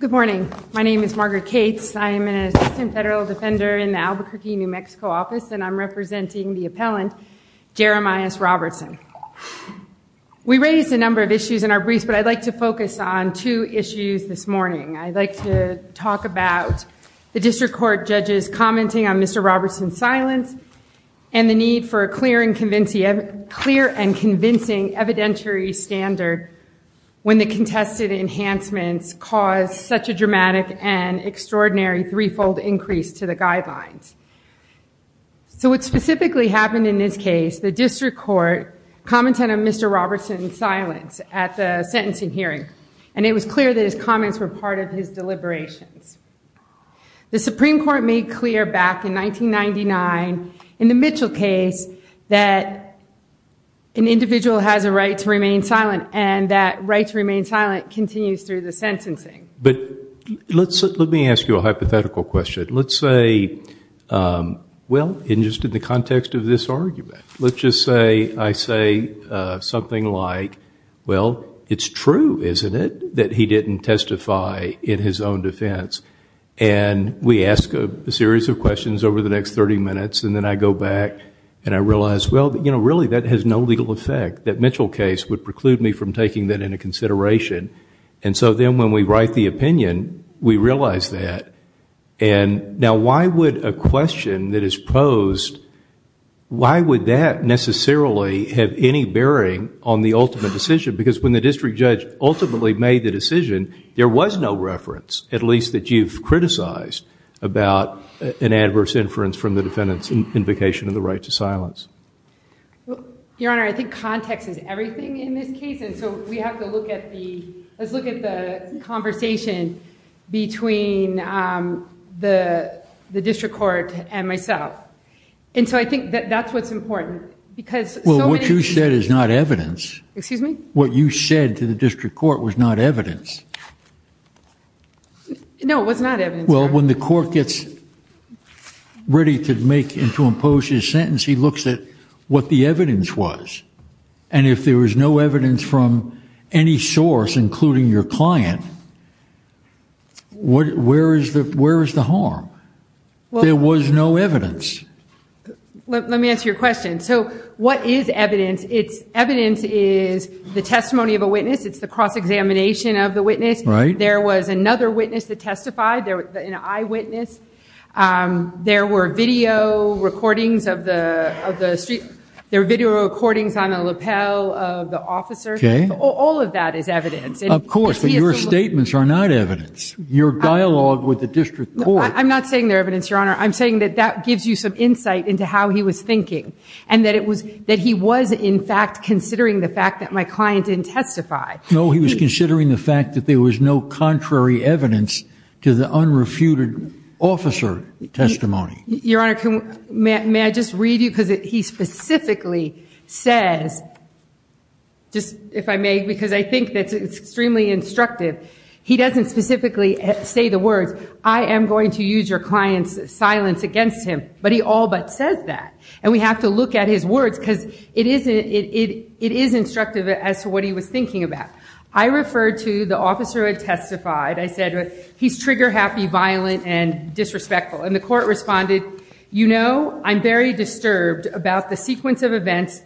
Good morning. My name is Margaret Cates. I am an assistant federal defender in the Albuquerque, New Mexico office, and I'm representing the appellant, Jeremias Robertson. We raised a number of issues in our briefs, but I'd like to focus on two issues this morning. I'd like to talk about the district court judges commenting on Mr. Robertson's silence and the need for a clear and convincing evidentiary standard when the contested enhancements caused such a dramatic and extraordinary three-fold increase to the guidelines. So what specifically happened in this case, the district court commented on Mr. Robertson's silence at the sentencing hearing. And it was clear that his comments were part of his deliberations. The Supreme Court made clear back in 1999 in the Mitchell case that an individual has a right to remain silent, and that right to remain silent continues through the sentencing. But let me ask you a hypothetical question. Let's say, well, just in the context of this argument, let's just say I say something like, well, it's true, isn't it, that he didn't testify in his own defense? And we ask a series of questions over the next 30 minutes, and then I go back and I realize, well, you know, really that has no legal effect. That Mitchell case would preclude me from taking that into consideration. And so then when we write the opinion, we realize that. And now why would a question that is posed, why would that necessarily have any bearing on the ultimate decision? Because when the district judge ultimately made the decision, there was no reference, at least that you've criticized, about an adverse inference from the defendant's invocation of the right to silence. Your Honor, I think context is everything in this case, and so we have to look at the... let's look at the conversation between the district court and myself. And so I think that that's what's important. Well, what you said is not evidence. Excuse me? What you said to the district court was not evidence. No, it was not evidence. Well, when the court gets ready to make and to impose his sentence, he looks at what the evidence was. And if there was no evidence from any source, including your client, where is the harm? There was no evidence. Let me answer your question. So what is evidence? Evidence is the testimony of a witness. It's the cross-examination of the witness. There was another witness that testified, an eyewitness. There were video recordings on a lapel of the officer. All of that is evidence. Of course, but your statements are not evidence. Your dialogue with the district court... I'm not saying they're evidence, Your Honor. I'm saying that that gives you some insight into how he was thinking. And that he was, in fact, considering the fact that my client didn't testify. No, he was considering the fact that there was no contrary evidence to the unrefuted officer testimony. Your Honor, may I just read you? Because he specifically says, just if I may, because I think that's extremely instructive. He doesn't specifically say the words, I am going to use your client's silence against him. But he all but says that. And we have to look at his words, because it is instructive as to what he was thinking about. I referred to the officer who had testified. I said, he's trigger-happy, violent, and disrespectful. And the court responded, you know, I'm very disturbed about the sequence of events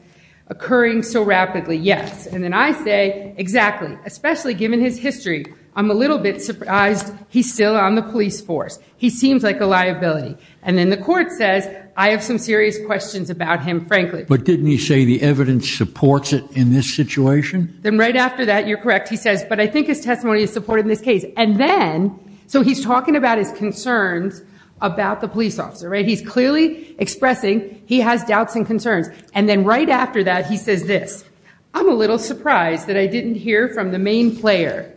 occurring so rapidly, yes. And then I say, exactly, especially given his history, I'm a little bit surprised he's still on the police force. He seems like a liability. And then the court says, I have some serious questions about him, frankly. But didn't he say the evidence supports it in this situation? Then right after that, you're correct, he says, but I think his testimony is supported in this case. And then, so he's talking about his concerns about the police officer, right? He's clearly expressing he has doubts and concerns. And then right after that, he says this, I'm a little surprised that I didn't hear from the main player,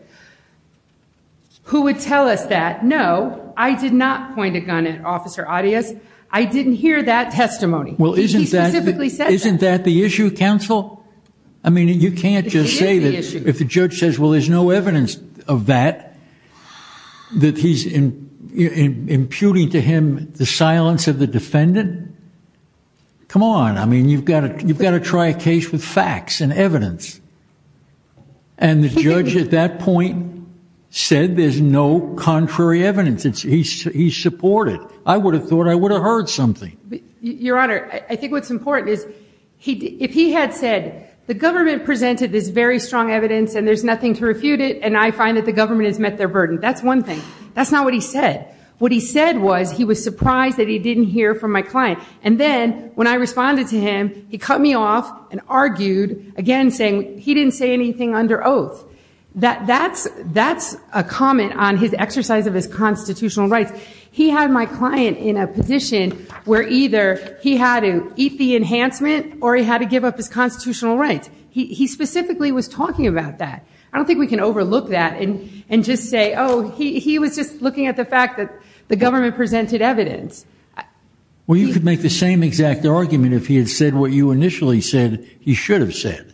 who would tell us that, no, I did not point a gun at Officer Adias. I didn't hear that testimony. Well, isn't that the issue, counsel? I mean, you can't just say that if the judge says, well, there's no evidence of that, that he's imputing to him the silence of the defendant. Come on. I mean, you've got to try a case with facts and evidence. And the judge at that point said there's no contrary evidence. He's supported. I would have thought I would have heard something. Your Honor, I think what's important is, if he had said, the government presented this very strong evidence, and there's nothing to refute it, and I find that the government has met their burden. That's one thing. That's not what he said. What he said was, he was surprised that he didn't hear from my client. And then, when I responded to him, he cut me off and argued, again, saying he didn't say anything under oath. That's a comment on his exercise of his constitutional rights. He had my client in a position where either he had to eat the enhancement or he had to give up his constitutional rights. He specifically was talking about that. I don't think we can overlook that and just say, oh, he was just looking at the fact that the government presented evidence. Well, you could make the same exact argument if he had said what you initially said he should have said.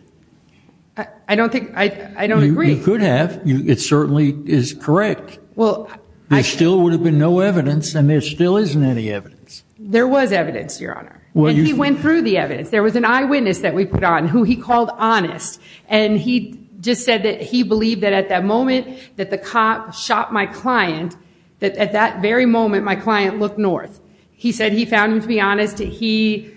I don't think, I don't agree. You could have. It certainly is correct. There still would have been no evidence, and there still isn't any evidence. There was evidence, Your Honor. And he went through the evidence. There was an eyewitness that we put on, who he called honest. And he just said that he believed that, at that moment, that the cop shot my client, that, at that very moment, my client looked north. He said he found him to be honest. He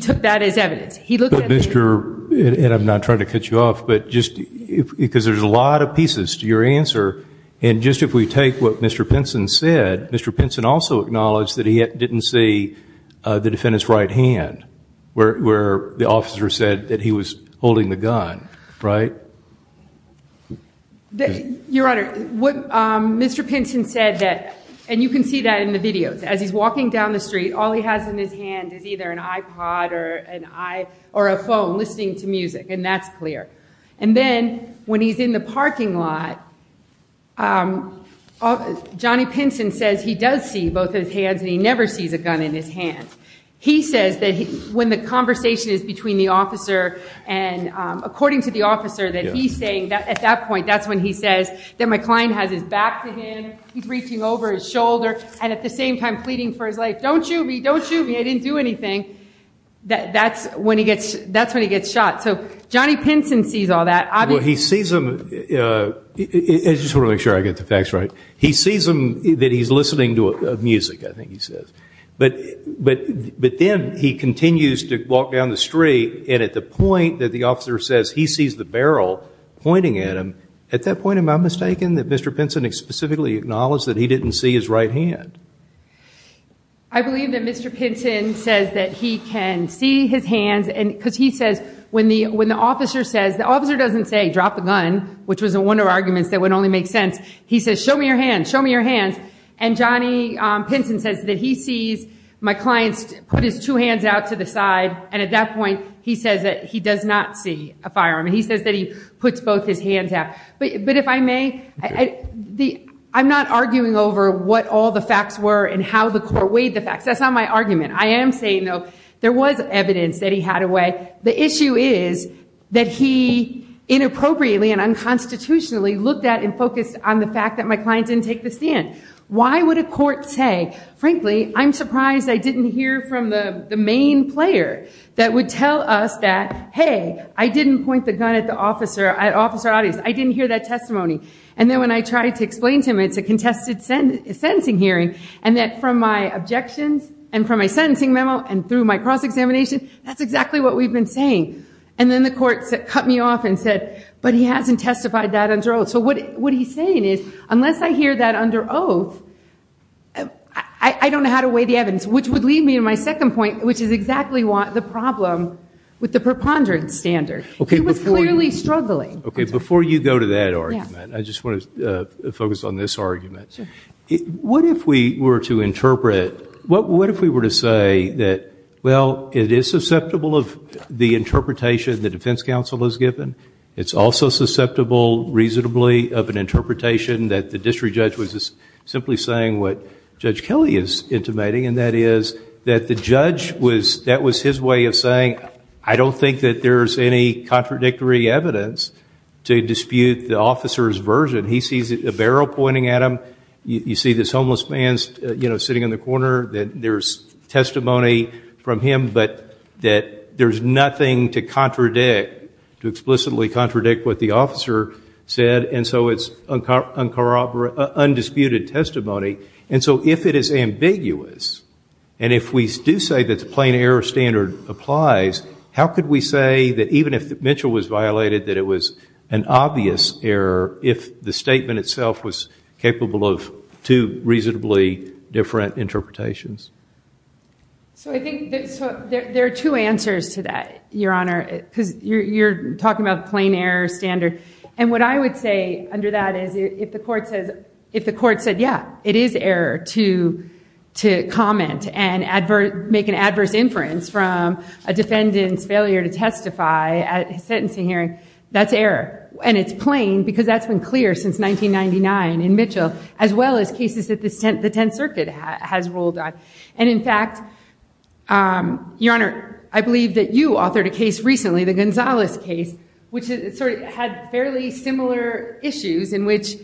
took that as evidence. He looked at the evidence. And I'm not trying to cut you off, because there's a lot of pieces to your answer. And just if we take what Mr. Pinson said, Mr. Pinson also acknowledged that he didn't see the defendant's right hand, where the officer said that he was holding the gun, right? Your Honor, what Mr. Pinson said that, and you can see that in the videos, as he's walking down the street, all he has in his hand is either an iPod or a phone, listening to music. And that's clear. And then, when he's in the parking lot, Johnny Pinson says he does see both his hands, and he never sees a gun in his hand. He says that, when the conversation is between the officer and, according to the officer, that he's saying, at that point, that's when he says that my client has his back to him, he's reaching over his shoulder, and at the same time pleading for his life, don't shoot me, don't shoot me, I didn't do anything. That's when he gets shot. So Johnny Pinson sees all that. He sees him, I just want to make sure I get the facts right. He sees him, that he's listening to music, I think he says, but then he continues to walk down the street, and at the point that the officer says he sees the barrel pointing at him, at that point, am I mistaken that Mr. Pinson specifically acknowledged that he didn't see his right hand? I believe that Mr. Pinson says that he can see his hands, because he says, when the officer says, the officer doesn't say, drop the gun, which was one of the arguments that would only make sense. He says, show me your hands, show me your hands, and Johnny Pinson says that he sees my client put his two hands out to the side, and at that point, he says that he does not see a firearm. He says that he puts both his hands out. But if I may, I'm not arguing over what all the facts were, and how the court weighed the facts. That's not my argument. I am saying, though, there was evidence that he had a way. The issue is that he inappropriately and unconstitutionally looked at and focused on the fact that my client didn't take the stand. Why would a court say, frankly, I'm surprised I didn't hear from the main player that would tell us that, hey, I didn't point the gun at the officer, at officer audience, I didn't hear that testimony. And then when I tried to explain to him, it's a contested sentencing hearing, and that from my objections, and from my sentencing memo, and through my cross-examination, that's exactly what we've been saying. And then the court cut me off and said, but he hasn't testified that under oath. So what he's saying is, unless I hear that under oath, I don't know how to weigh the evidence, which would leave me in my second point, which is exactly the problem with the preponderance standard. He was clearly struggling. OK, before you go to that argument, I just want to focus on this argument. What if we were to interpret, what if we were to say that, well, it is susceptible of the interpretation the defense counsel has given. It's also susceptible reasonably of an interpretation that the district judge was simply saying what Judge Kelly is intimating, and that is that the judge, that was his way of saying, I don't think that there's any contradictory evidence to dispute the officer's version. When he sees a barrel pointing at him, you see this homeless man sitting in the corner, that there's testimony from him, but that there's nothing to contradict, to explicitly contradict what the officer said, and so it's undisputed testimony. And so if it is ambiguous, and if we do say that the plain error standard applies, how do we say that the statement itself was capable of two reasonably different interpretations? So I think there are two answers to that, Your Honor, because you're talking about plain error standard. And what I would say under that is if the court said, yeah, it is error to comment and make an adverse inference from a defendant's failure to testify at a sentencing hearing, that's error. And it's plain, because that's been clear since 1999 in Mitchell, as well as cases that the Tenth Circuit has ruled on. And in fact, Your Honor, I believe that you authored a case recently, the Gonzalez case, which had fairly similar issues, in which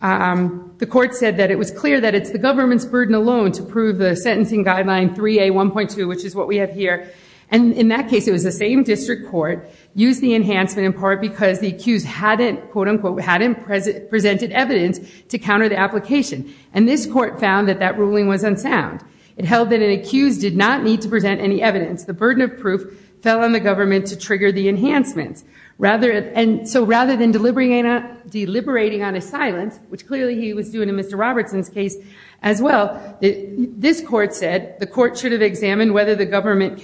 the court said that it was clear that it's the government's burden alone to prove the sentencing guideline 3A1.2, which is what we have here. And in that case, it was the same district court. Used the enhancement in part because the accused hadn't, quote unquote, hadn't presented evidence to counter the application. And this court found that that ruling was unsound. It held that an accused did not need to present any evidence. The burden of proof fell on the government to trigger the enhancements. And so rather than deliberating on a silence, which clearly he was doing in Mr. Robertson's case as well, this court said the court should have examined whether the defendant's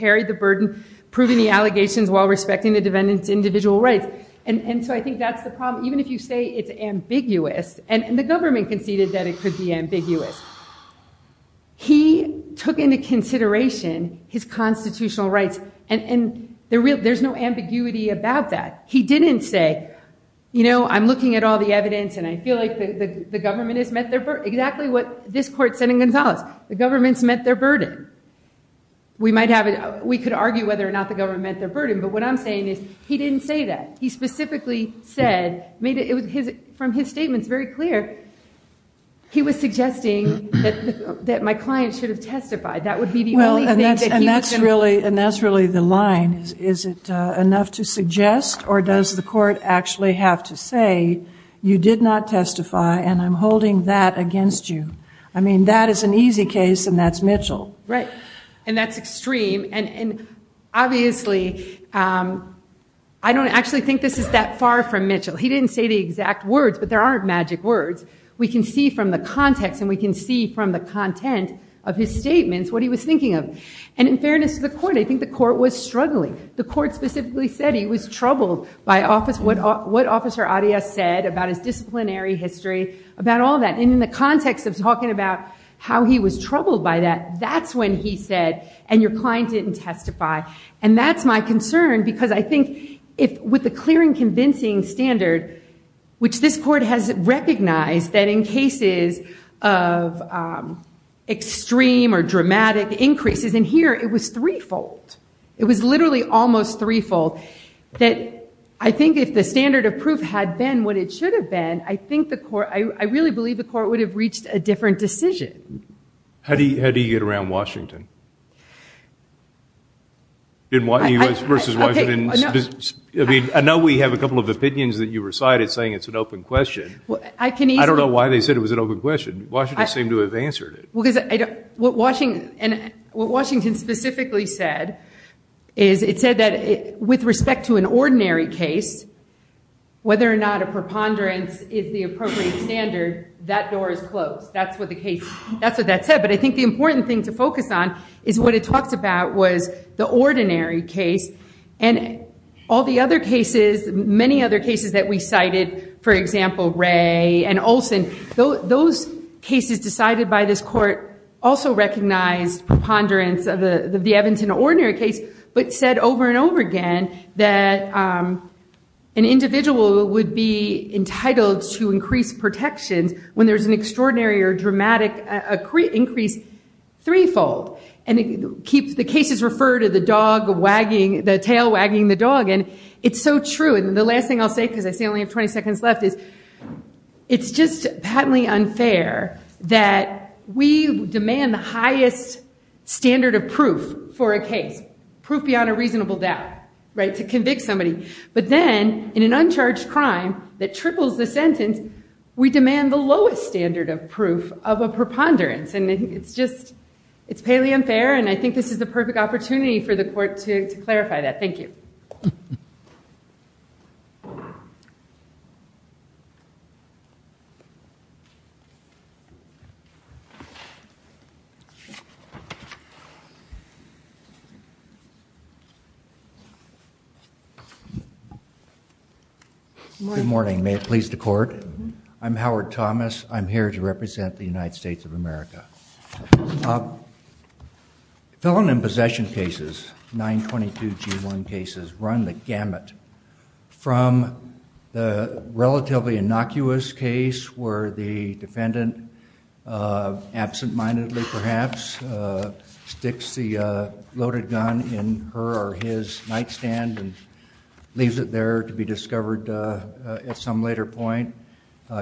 individual rights. And so I think that's the problem. Even if you say it's ambiguous, and the government conceded that it could be ambiguous, he took into consideration his constitutional rights. And there's no ambiguity about that. He didn't say, you know, I'm looking at all the evidence, and I feel like the government has met their burden. Exactly what this court said in Gonzalez. The government's met their burden. We could argue whether or not the government met their burden. But what I'm saying is, he didn't say that. He specifically said, from his statements, very clear, he was suggesting that my client should have testified. That would be the only thing that he was going to. And that's really the line. Is it enough to suggest, or does the court actually have to say, you did not testify, and I'm holding that against you? I mean, that is an easy case, and that's Mitchell. Right. And that's extreme. And obviously, I don't actually think this is that far from Mitchell. He didn't say the exact words, but there aren't magic words. We can see from the context, and we can see from the content of his statements what he was thinking of. And in fairness to the court, I think the court was struggling. The court specifically said he was troubled by what Officer Arias said about his disciplinary history, about all that. And in the context of talking about how he was troubled by that, that's when he said, and your client didn't testify. And that's my concern, because I think with the clear and convincing standard, which this court has recognized that in cases of extreme or dramatic increases in here, it was threefold. It was literally almost threefold. I think if the standard of proof had been what it should have been, I really believe the court would have reached a different decision. How do you get around Washington? US versus Washington. I know we have a couple of opinions that you recited saying it's an open question. I don't know why they said it was an open question. Washington seemed to have answered it. Because what Washington specifically said is it said that with respect to an ordinary case, whether or not a preponderance is the appropriate standard, that door is closed. That's what that said. But I think the important thing to focus on is what it talks about was the ordinary case. And all the other cases, many other cases that we cited, for example, Ray and Olson, those cases decided by this court also recognized preponderance of the Evington ordinary case, but said over and over again that an individual would be entitled to increased protections when there's an extraordinary or dramatic increase threefold. And the cases refer to the tail wagging the dog. And it's so true. And the last thing I'll say, because I say I only have 20 seconds left, is it's just patently unfair that we demand the highest standard of proof for a case, proof beyond a reasonable doubt, to convict somebody. But then, in an uncharged crime that triples the sentence, we demand the lowest standard of proof of a preponderance. And it's just, it's patently unfair. And I think this is the perfect opportunity for the court to clarify that. Thank you. HOWARD THOMAS. Good morning. May it please the court. I'm Howard Thomas. I'm here to represent the United States of America. Felon in possession cases, 922G1 cases, run the gamut from the relatively innocuous case where the defendant, absent-mindedly perhaps, sticks the loaded gun in her or his nightstand and leaves it there to be discovered at some later point,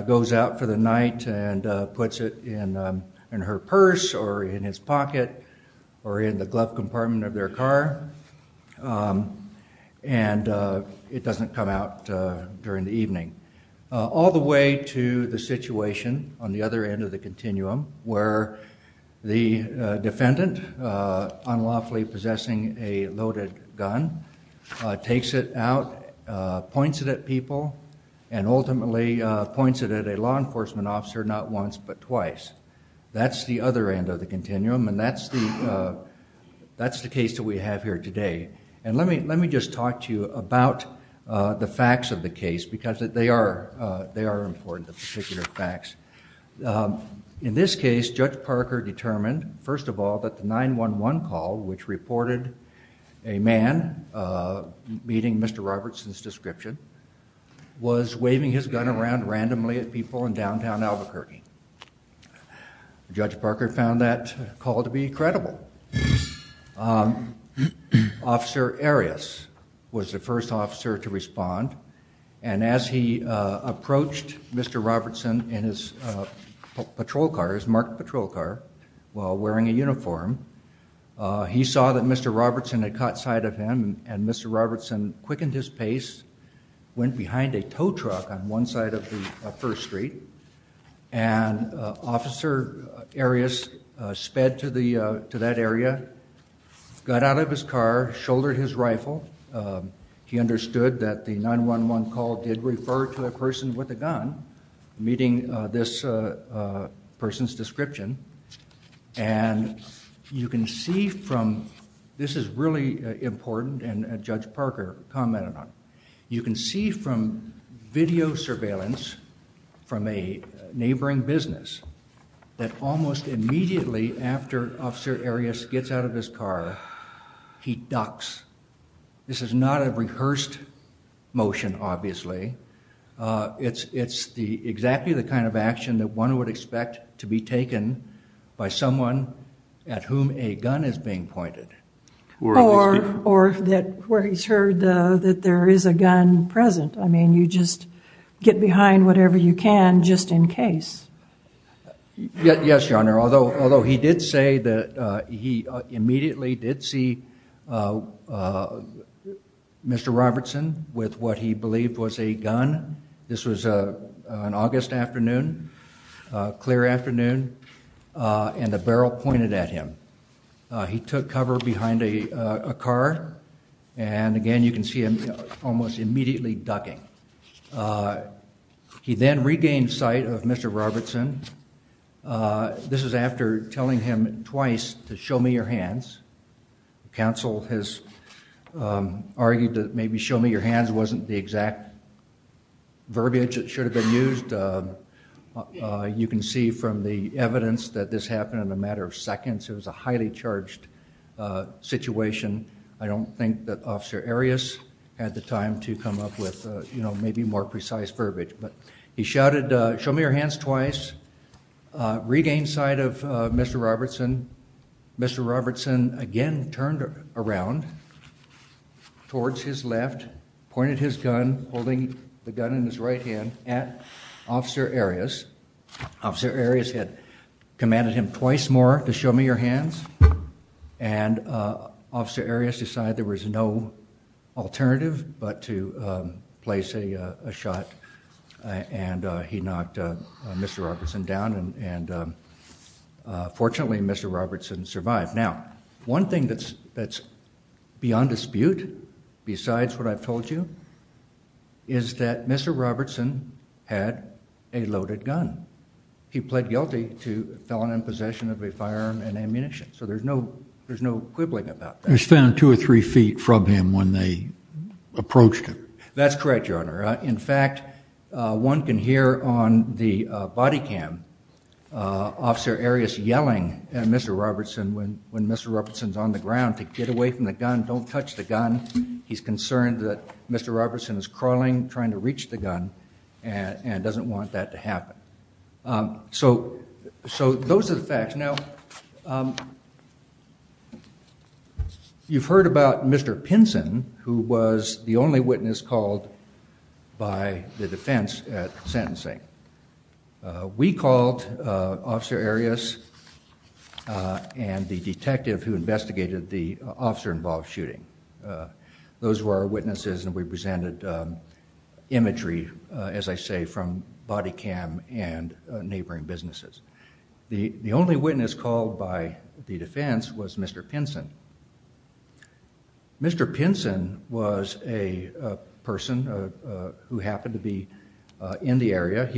goes out for the night and puts it in her purse or in his pocket or in the glove compartment of their car. And it doesn't come out during the evening, all the way to the situation on the other end of the continuum, where the defendant, unlawfully possessing a loaded gun, takes it out, points it at people, and ultimately points it at a law enforcement officer, not once but twice. That's the other end of the continuum. And that's the case that we have here today. And let me just talk to you about the facts of the case, because they are important, the particular facts. In this case, Judge Parker determined, first of all, that the 911 call, which reported a man meeting Mr. Robertson's description, was waving his gun around randomly at people in downtown Albuquerque. Judge Parker found that call to be credible. Officer Arias was the first officer to respond. And as he approached Mr. Robertson in his patrol car, his marked patrol car, while wearing a uniform, he saw that Mr. Robertson had caught sight of him. And Mr. Robertson quickened his pace, went behind a tow truck on one side of the first street. And Officer Arias sped to that area, got out of his car, shouldered his rifle. He understood that the 911 call did refer to a person with a gun meeting this person's description. And you can see from, this is really important, and Judge Parker commented on it. You can see from video surveillance from a neighboring business that almost immediately after Officer Arias gets out of his car, he ducks. This is not a rehearsed motion, obviously. It's exactly the kind of action that one would expect to be taken by someone at whom a gun is being pointed. Or where he's heard that there is a gun present. I mean, you just get behind whatever you can just in case. Yes, Your Honor. Although he did say that he immediately did see Mr. Robertson with what he believed was a gun. This was an August afternoon, clear afternoon. And the barrel pointed at him. He took cover behind a car. And again, you can see him almost immediately ducking. He then regained sight of Mr. Robertson. This is after telling him twice to show me your hands. Counsel has argued that maybe show me your hands wasn't the exact verbiage that should have been used. You can see from the evidence that this happened in a matter of seconds. It was a highly charged situation. I don't think that Officer Arias had the time to come up with maybe more precise verbiage. But he shouted, show me your hands twice. Regained sight of Mr. Robertson. Mr. Robertson again turned around towards his left, pointed his gun, holding the gun in his right hand at Officer Arias. Officer Arias had commanded him twice more to show me your hands. And Officer Arias decided there was no alternative but to place a shot. And he knocked Mr. Robertson down. And fortunately, Mr. Robertson survived. Now, one thing that's beyond dispute, besides what I've told you, is that Mr. Robertson had a loaded gun. He pled guilty to felon in possession of a firearm and ammunition. So there's no quibbling about that. It was found two or three feet from him when they approached him. That's correct, Your Honor. In fact, one can hear on the body cam Officer Arias yelling at Mr. Robertson when Mr. Robertson's on the ground to get away from the gun, don't touch the gun. He's concerned that Mr. Robertson is crawling, trying to reach the gun, and doesn't want that to happen. So those are the facts. Now, you've heard about Mr. Pinson, who was the only witness called by the defense at sentencing. We called Officer Arias and the detective who investigated the officer-involved shooting. Those were our witnesses. And we presented imagery, as I say, from body cam and neighboring businesses. The only witness called by the defense was Mr. Pinson. Mr. Pinson was a person who happened to be in the area.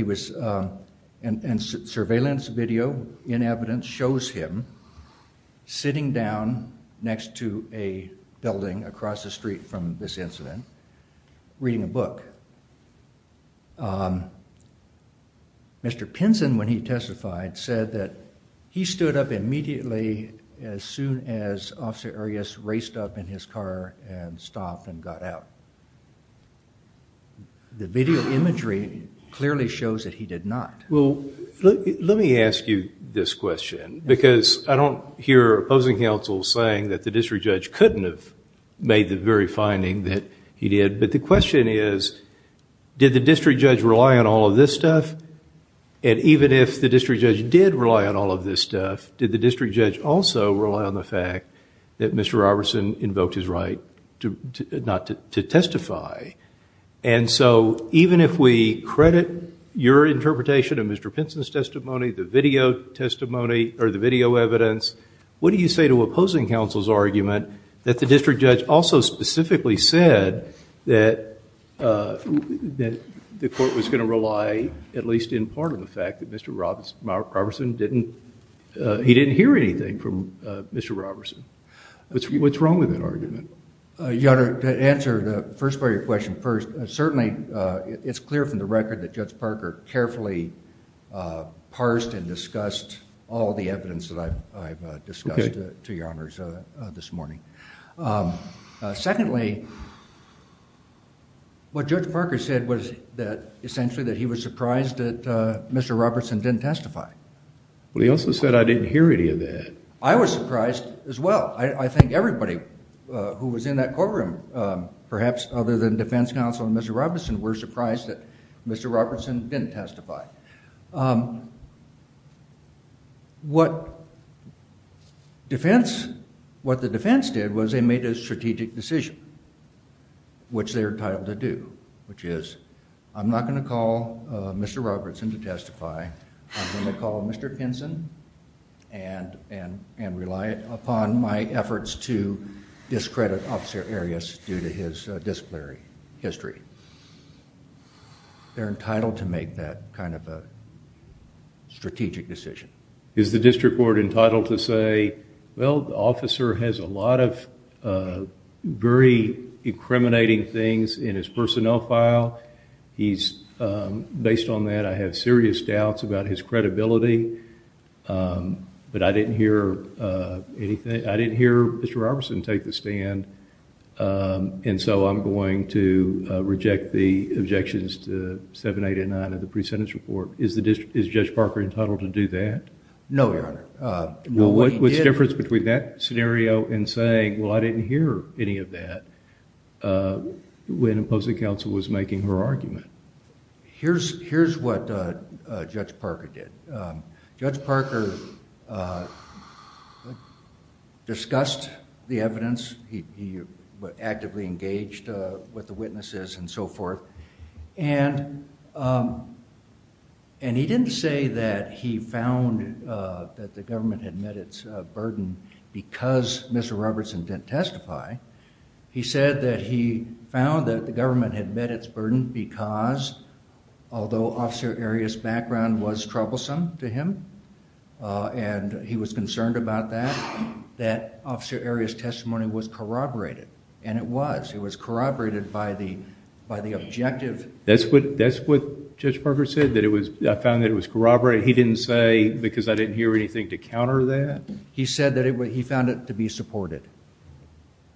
And surveillance video in evidence shows him sitting down next to a building across the street from this incident, reading a book. But Mr. Pinson, when he testified, said that he stood up immediately as soon as Officer Arias raced up in his car and stopped and got out. The video imagery clearly shows that he did not. Well, let me ask you this question. Because I don't hear opposing counsel saying that the district judge couldn't have made the very finding that he did. But the question is, did the district judge rely on all of this stuff? And even if the district judge did rely on all of this stuff, did the district judge also rely on the fact that Mr. Robertson invoked his right not to testify? And so even if we credit your interpretation of Mr. Pinson's testimony, the video testimony or the video evidence, what do you say to opposing counsel's argument that the district judge also specifically said that the court was going to rely at least in part of the fact that Mr. Robertson didn't hear anything from Mr. Robertson? What's wrong with that argument? Your Honor, to answer the first part of your question first, certainly it's clear from the record that Judge Parker carefully parsed and discussed all the evidence that I've discussed to your honors this morning. Secondly, what Judge Parker said was that essentially that he was surprised that Mr. Robertson didn't testify. Well, he also said I didn't hear any of that. I was surprised as well. I think everybody who was in that courtroom, perhaps other than defense counsel and Mr. Robertson, were surprised that Mr. Robertson didn't testify. What the defense did was they made a strategic decision, which they were entitled to do, which is I'm not going to call Mr. Robertson to testify. I'm going to call Mr. Pinson and rely upon my efforts to discredit Officer Arias due to his disciplinary history. They're entitled to make that kind of a strategic decision. Is the district court entitled to say, well, the officer has a lot of very incriminating things in his personnel file. Based on that, I have serious doubts about his credibility, but I didn't hear Mr. Robertson take the stand, and so I'm going to reject the objections to 7889 of the pre-sentence report. Is Judge Parker entitled to do that? No, Your Honor. Well, what's the difference between that scenario and saying, well, I didn't hear any of that when opposing counsel was making her argument? Here's what Judge Parker did. Judge Parker discussed the evidence. He actively engaged with the witnesses and so forth. And he didn't say that he found that the government had met its burden because Mr. Robertson didn't testify. He said that he found that the government had met its burden because, although Officer Arias' background was troublesome to him, and he was concerned about that, that Officer Arias' testimony was corroborated. And it was. It was corroborated by the objective. That's what Judge Parker said, that I found that it was corroborated. He didn't say because I didn't hear anything to counter that? He said that he found it to be supported.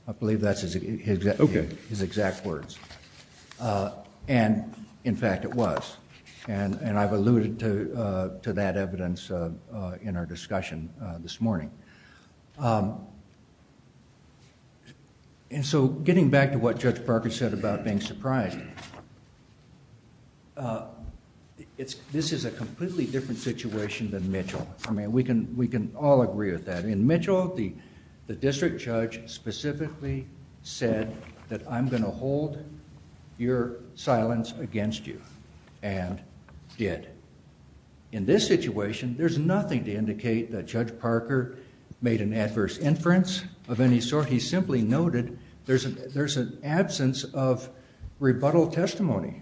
I believe that's his exact words. And in fact, it was. And I've alluded to that evidence in our discussion this morning. And so getting back to what Judge Parker said about being surprised, this is a completely different situation than Mitchell. I mean, we can all agree with that. In Mitchell, the district judge specifically said that I'm going to hold your silence against you and did. In this situation, there's nothing to indicate that Judge Parker made an adverse inference of any sort. He simply noted there's an absence of rebuttal testimony.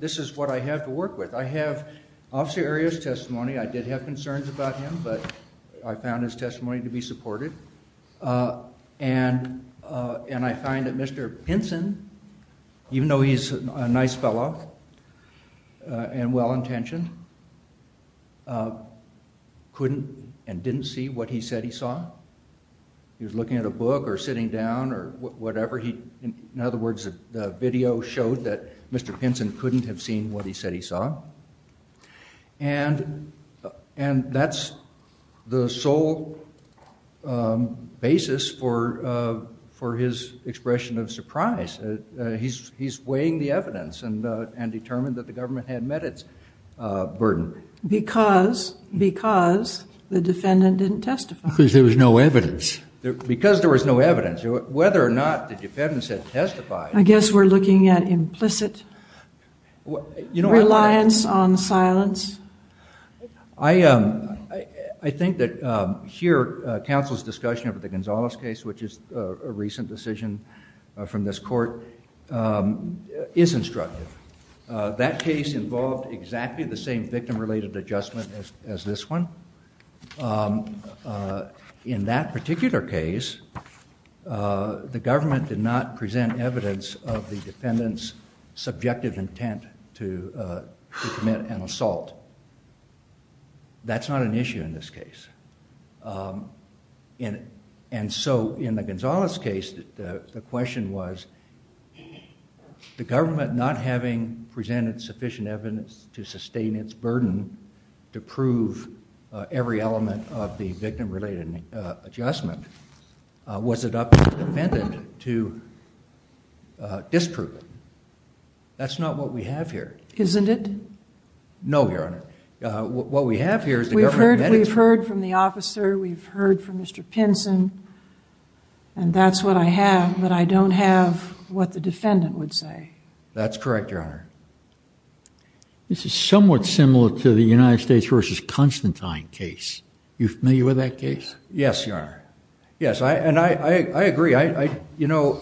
This is what I have to work with. I have Officer Arias' testimony. I did have concerns about him, but I found his testimony to be supported. And I find that Mr. Pinson, even though he's a nice fellow and well-intentioned, couldn't and didn't see what he said he saw. He was looking at a book or sitting down or whatever. In other words, the video showed that Mr. Pinson couldn't have seen what he said he saw. And that's the sole basis for his expression of surprise. He's weighing the evidence and determined that the government had met its burden. Because the defendant didn't testify. Because there was no evidence. Because there was no evidence. Whether or not the defendants had testified. I guess we're looking at implicit reliance on silence. I think that here, counsel's discussion over the Gonzalez case, which is a recent decision from this court, is instructive. That case involved exactly the same victim-related adjustment as this one. In that particular case, the government did not present evidence of the defendant's subjective intent to commit an assault. That's not an issue in this case. And so in the Gonzalez case, the question was, the government not having presented sufficient evidence to sustain its burden to prove every element of the victim-related adjustment, was it up to the defendant to disprove it? That's not what we have here. Isn't it? What we have here is the government met its burden. We've heard from the officer. We've heard from Mr. Pinson. And that's what I have. But I don't have what the defendant would say. That's correct, Your Honor. This is somewhat similar to the United States versus Constantine case. You familiar with that case? Yes, Your Honor. Yes, and I agree. I, you know,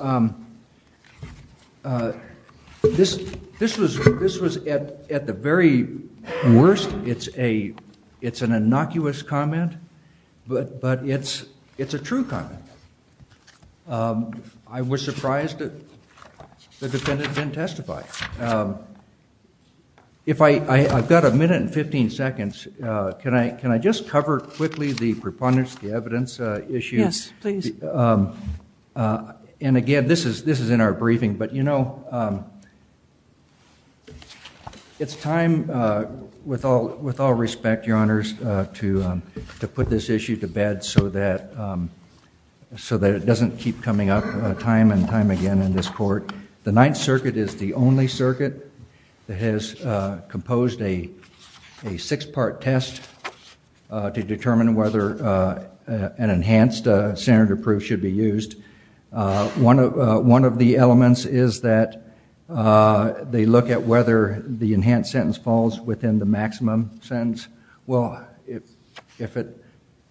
this was at the very worst. It's an innocuous comment, but it's a true comment. I was surprised that the defendant didn't testify. If I've got a minute and 15 seconds, can I just cover quickly the preponderance, the evidence issue? Yes, please. And again, this is in our briefing. But you know, it's time, with all respect, Your Honors, to put this issue to bed so that it doesn't keep coming up time and time again in this court. The Ninth Circuit is the only circuit that has composed a six-part test to determine whether an enhanced standard of proof should be used. One of the elements is that they look at whether the enhanced sentence falls within the maximum sentence. Well, if it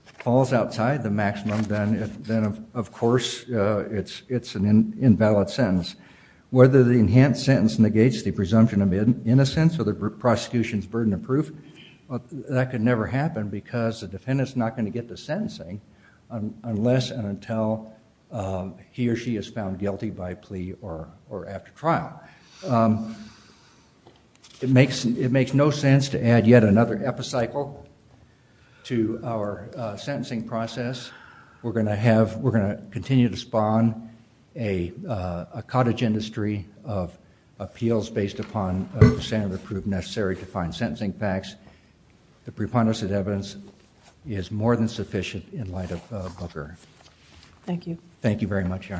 falls outside the maximum, then of course it's an invalid sentence. Whether the enhanced sentence negates the presumption of innocence or the prosecution's burden of proof, that can never happen because the defendant's not going to get the sentencing unless and until he or she is found guilty by plea or after trial. It makes no sense to add yet another epicycle to our sentencing process. We're going to continue to spawn a cottage industry of appeals based upon a standard of proof necessary to find sentencing facts. The preponderance of evidence is more than in the light of Booker. Thank you. Thank you very much, Your Honors.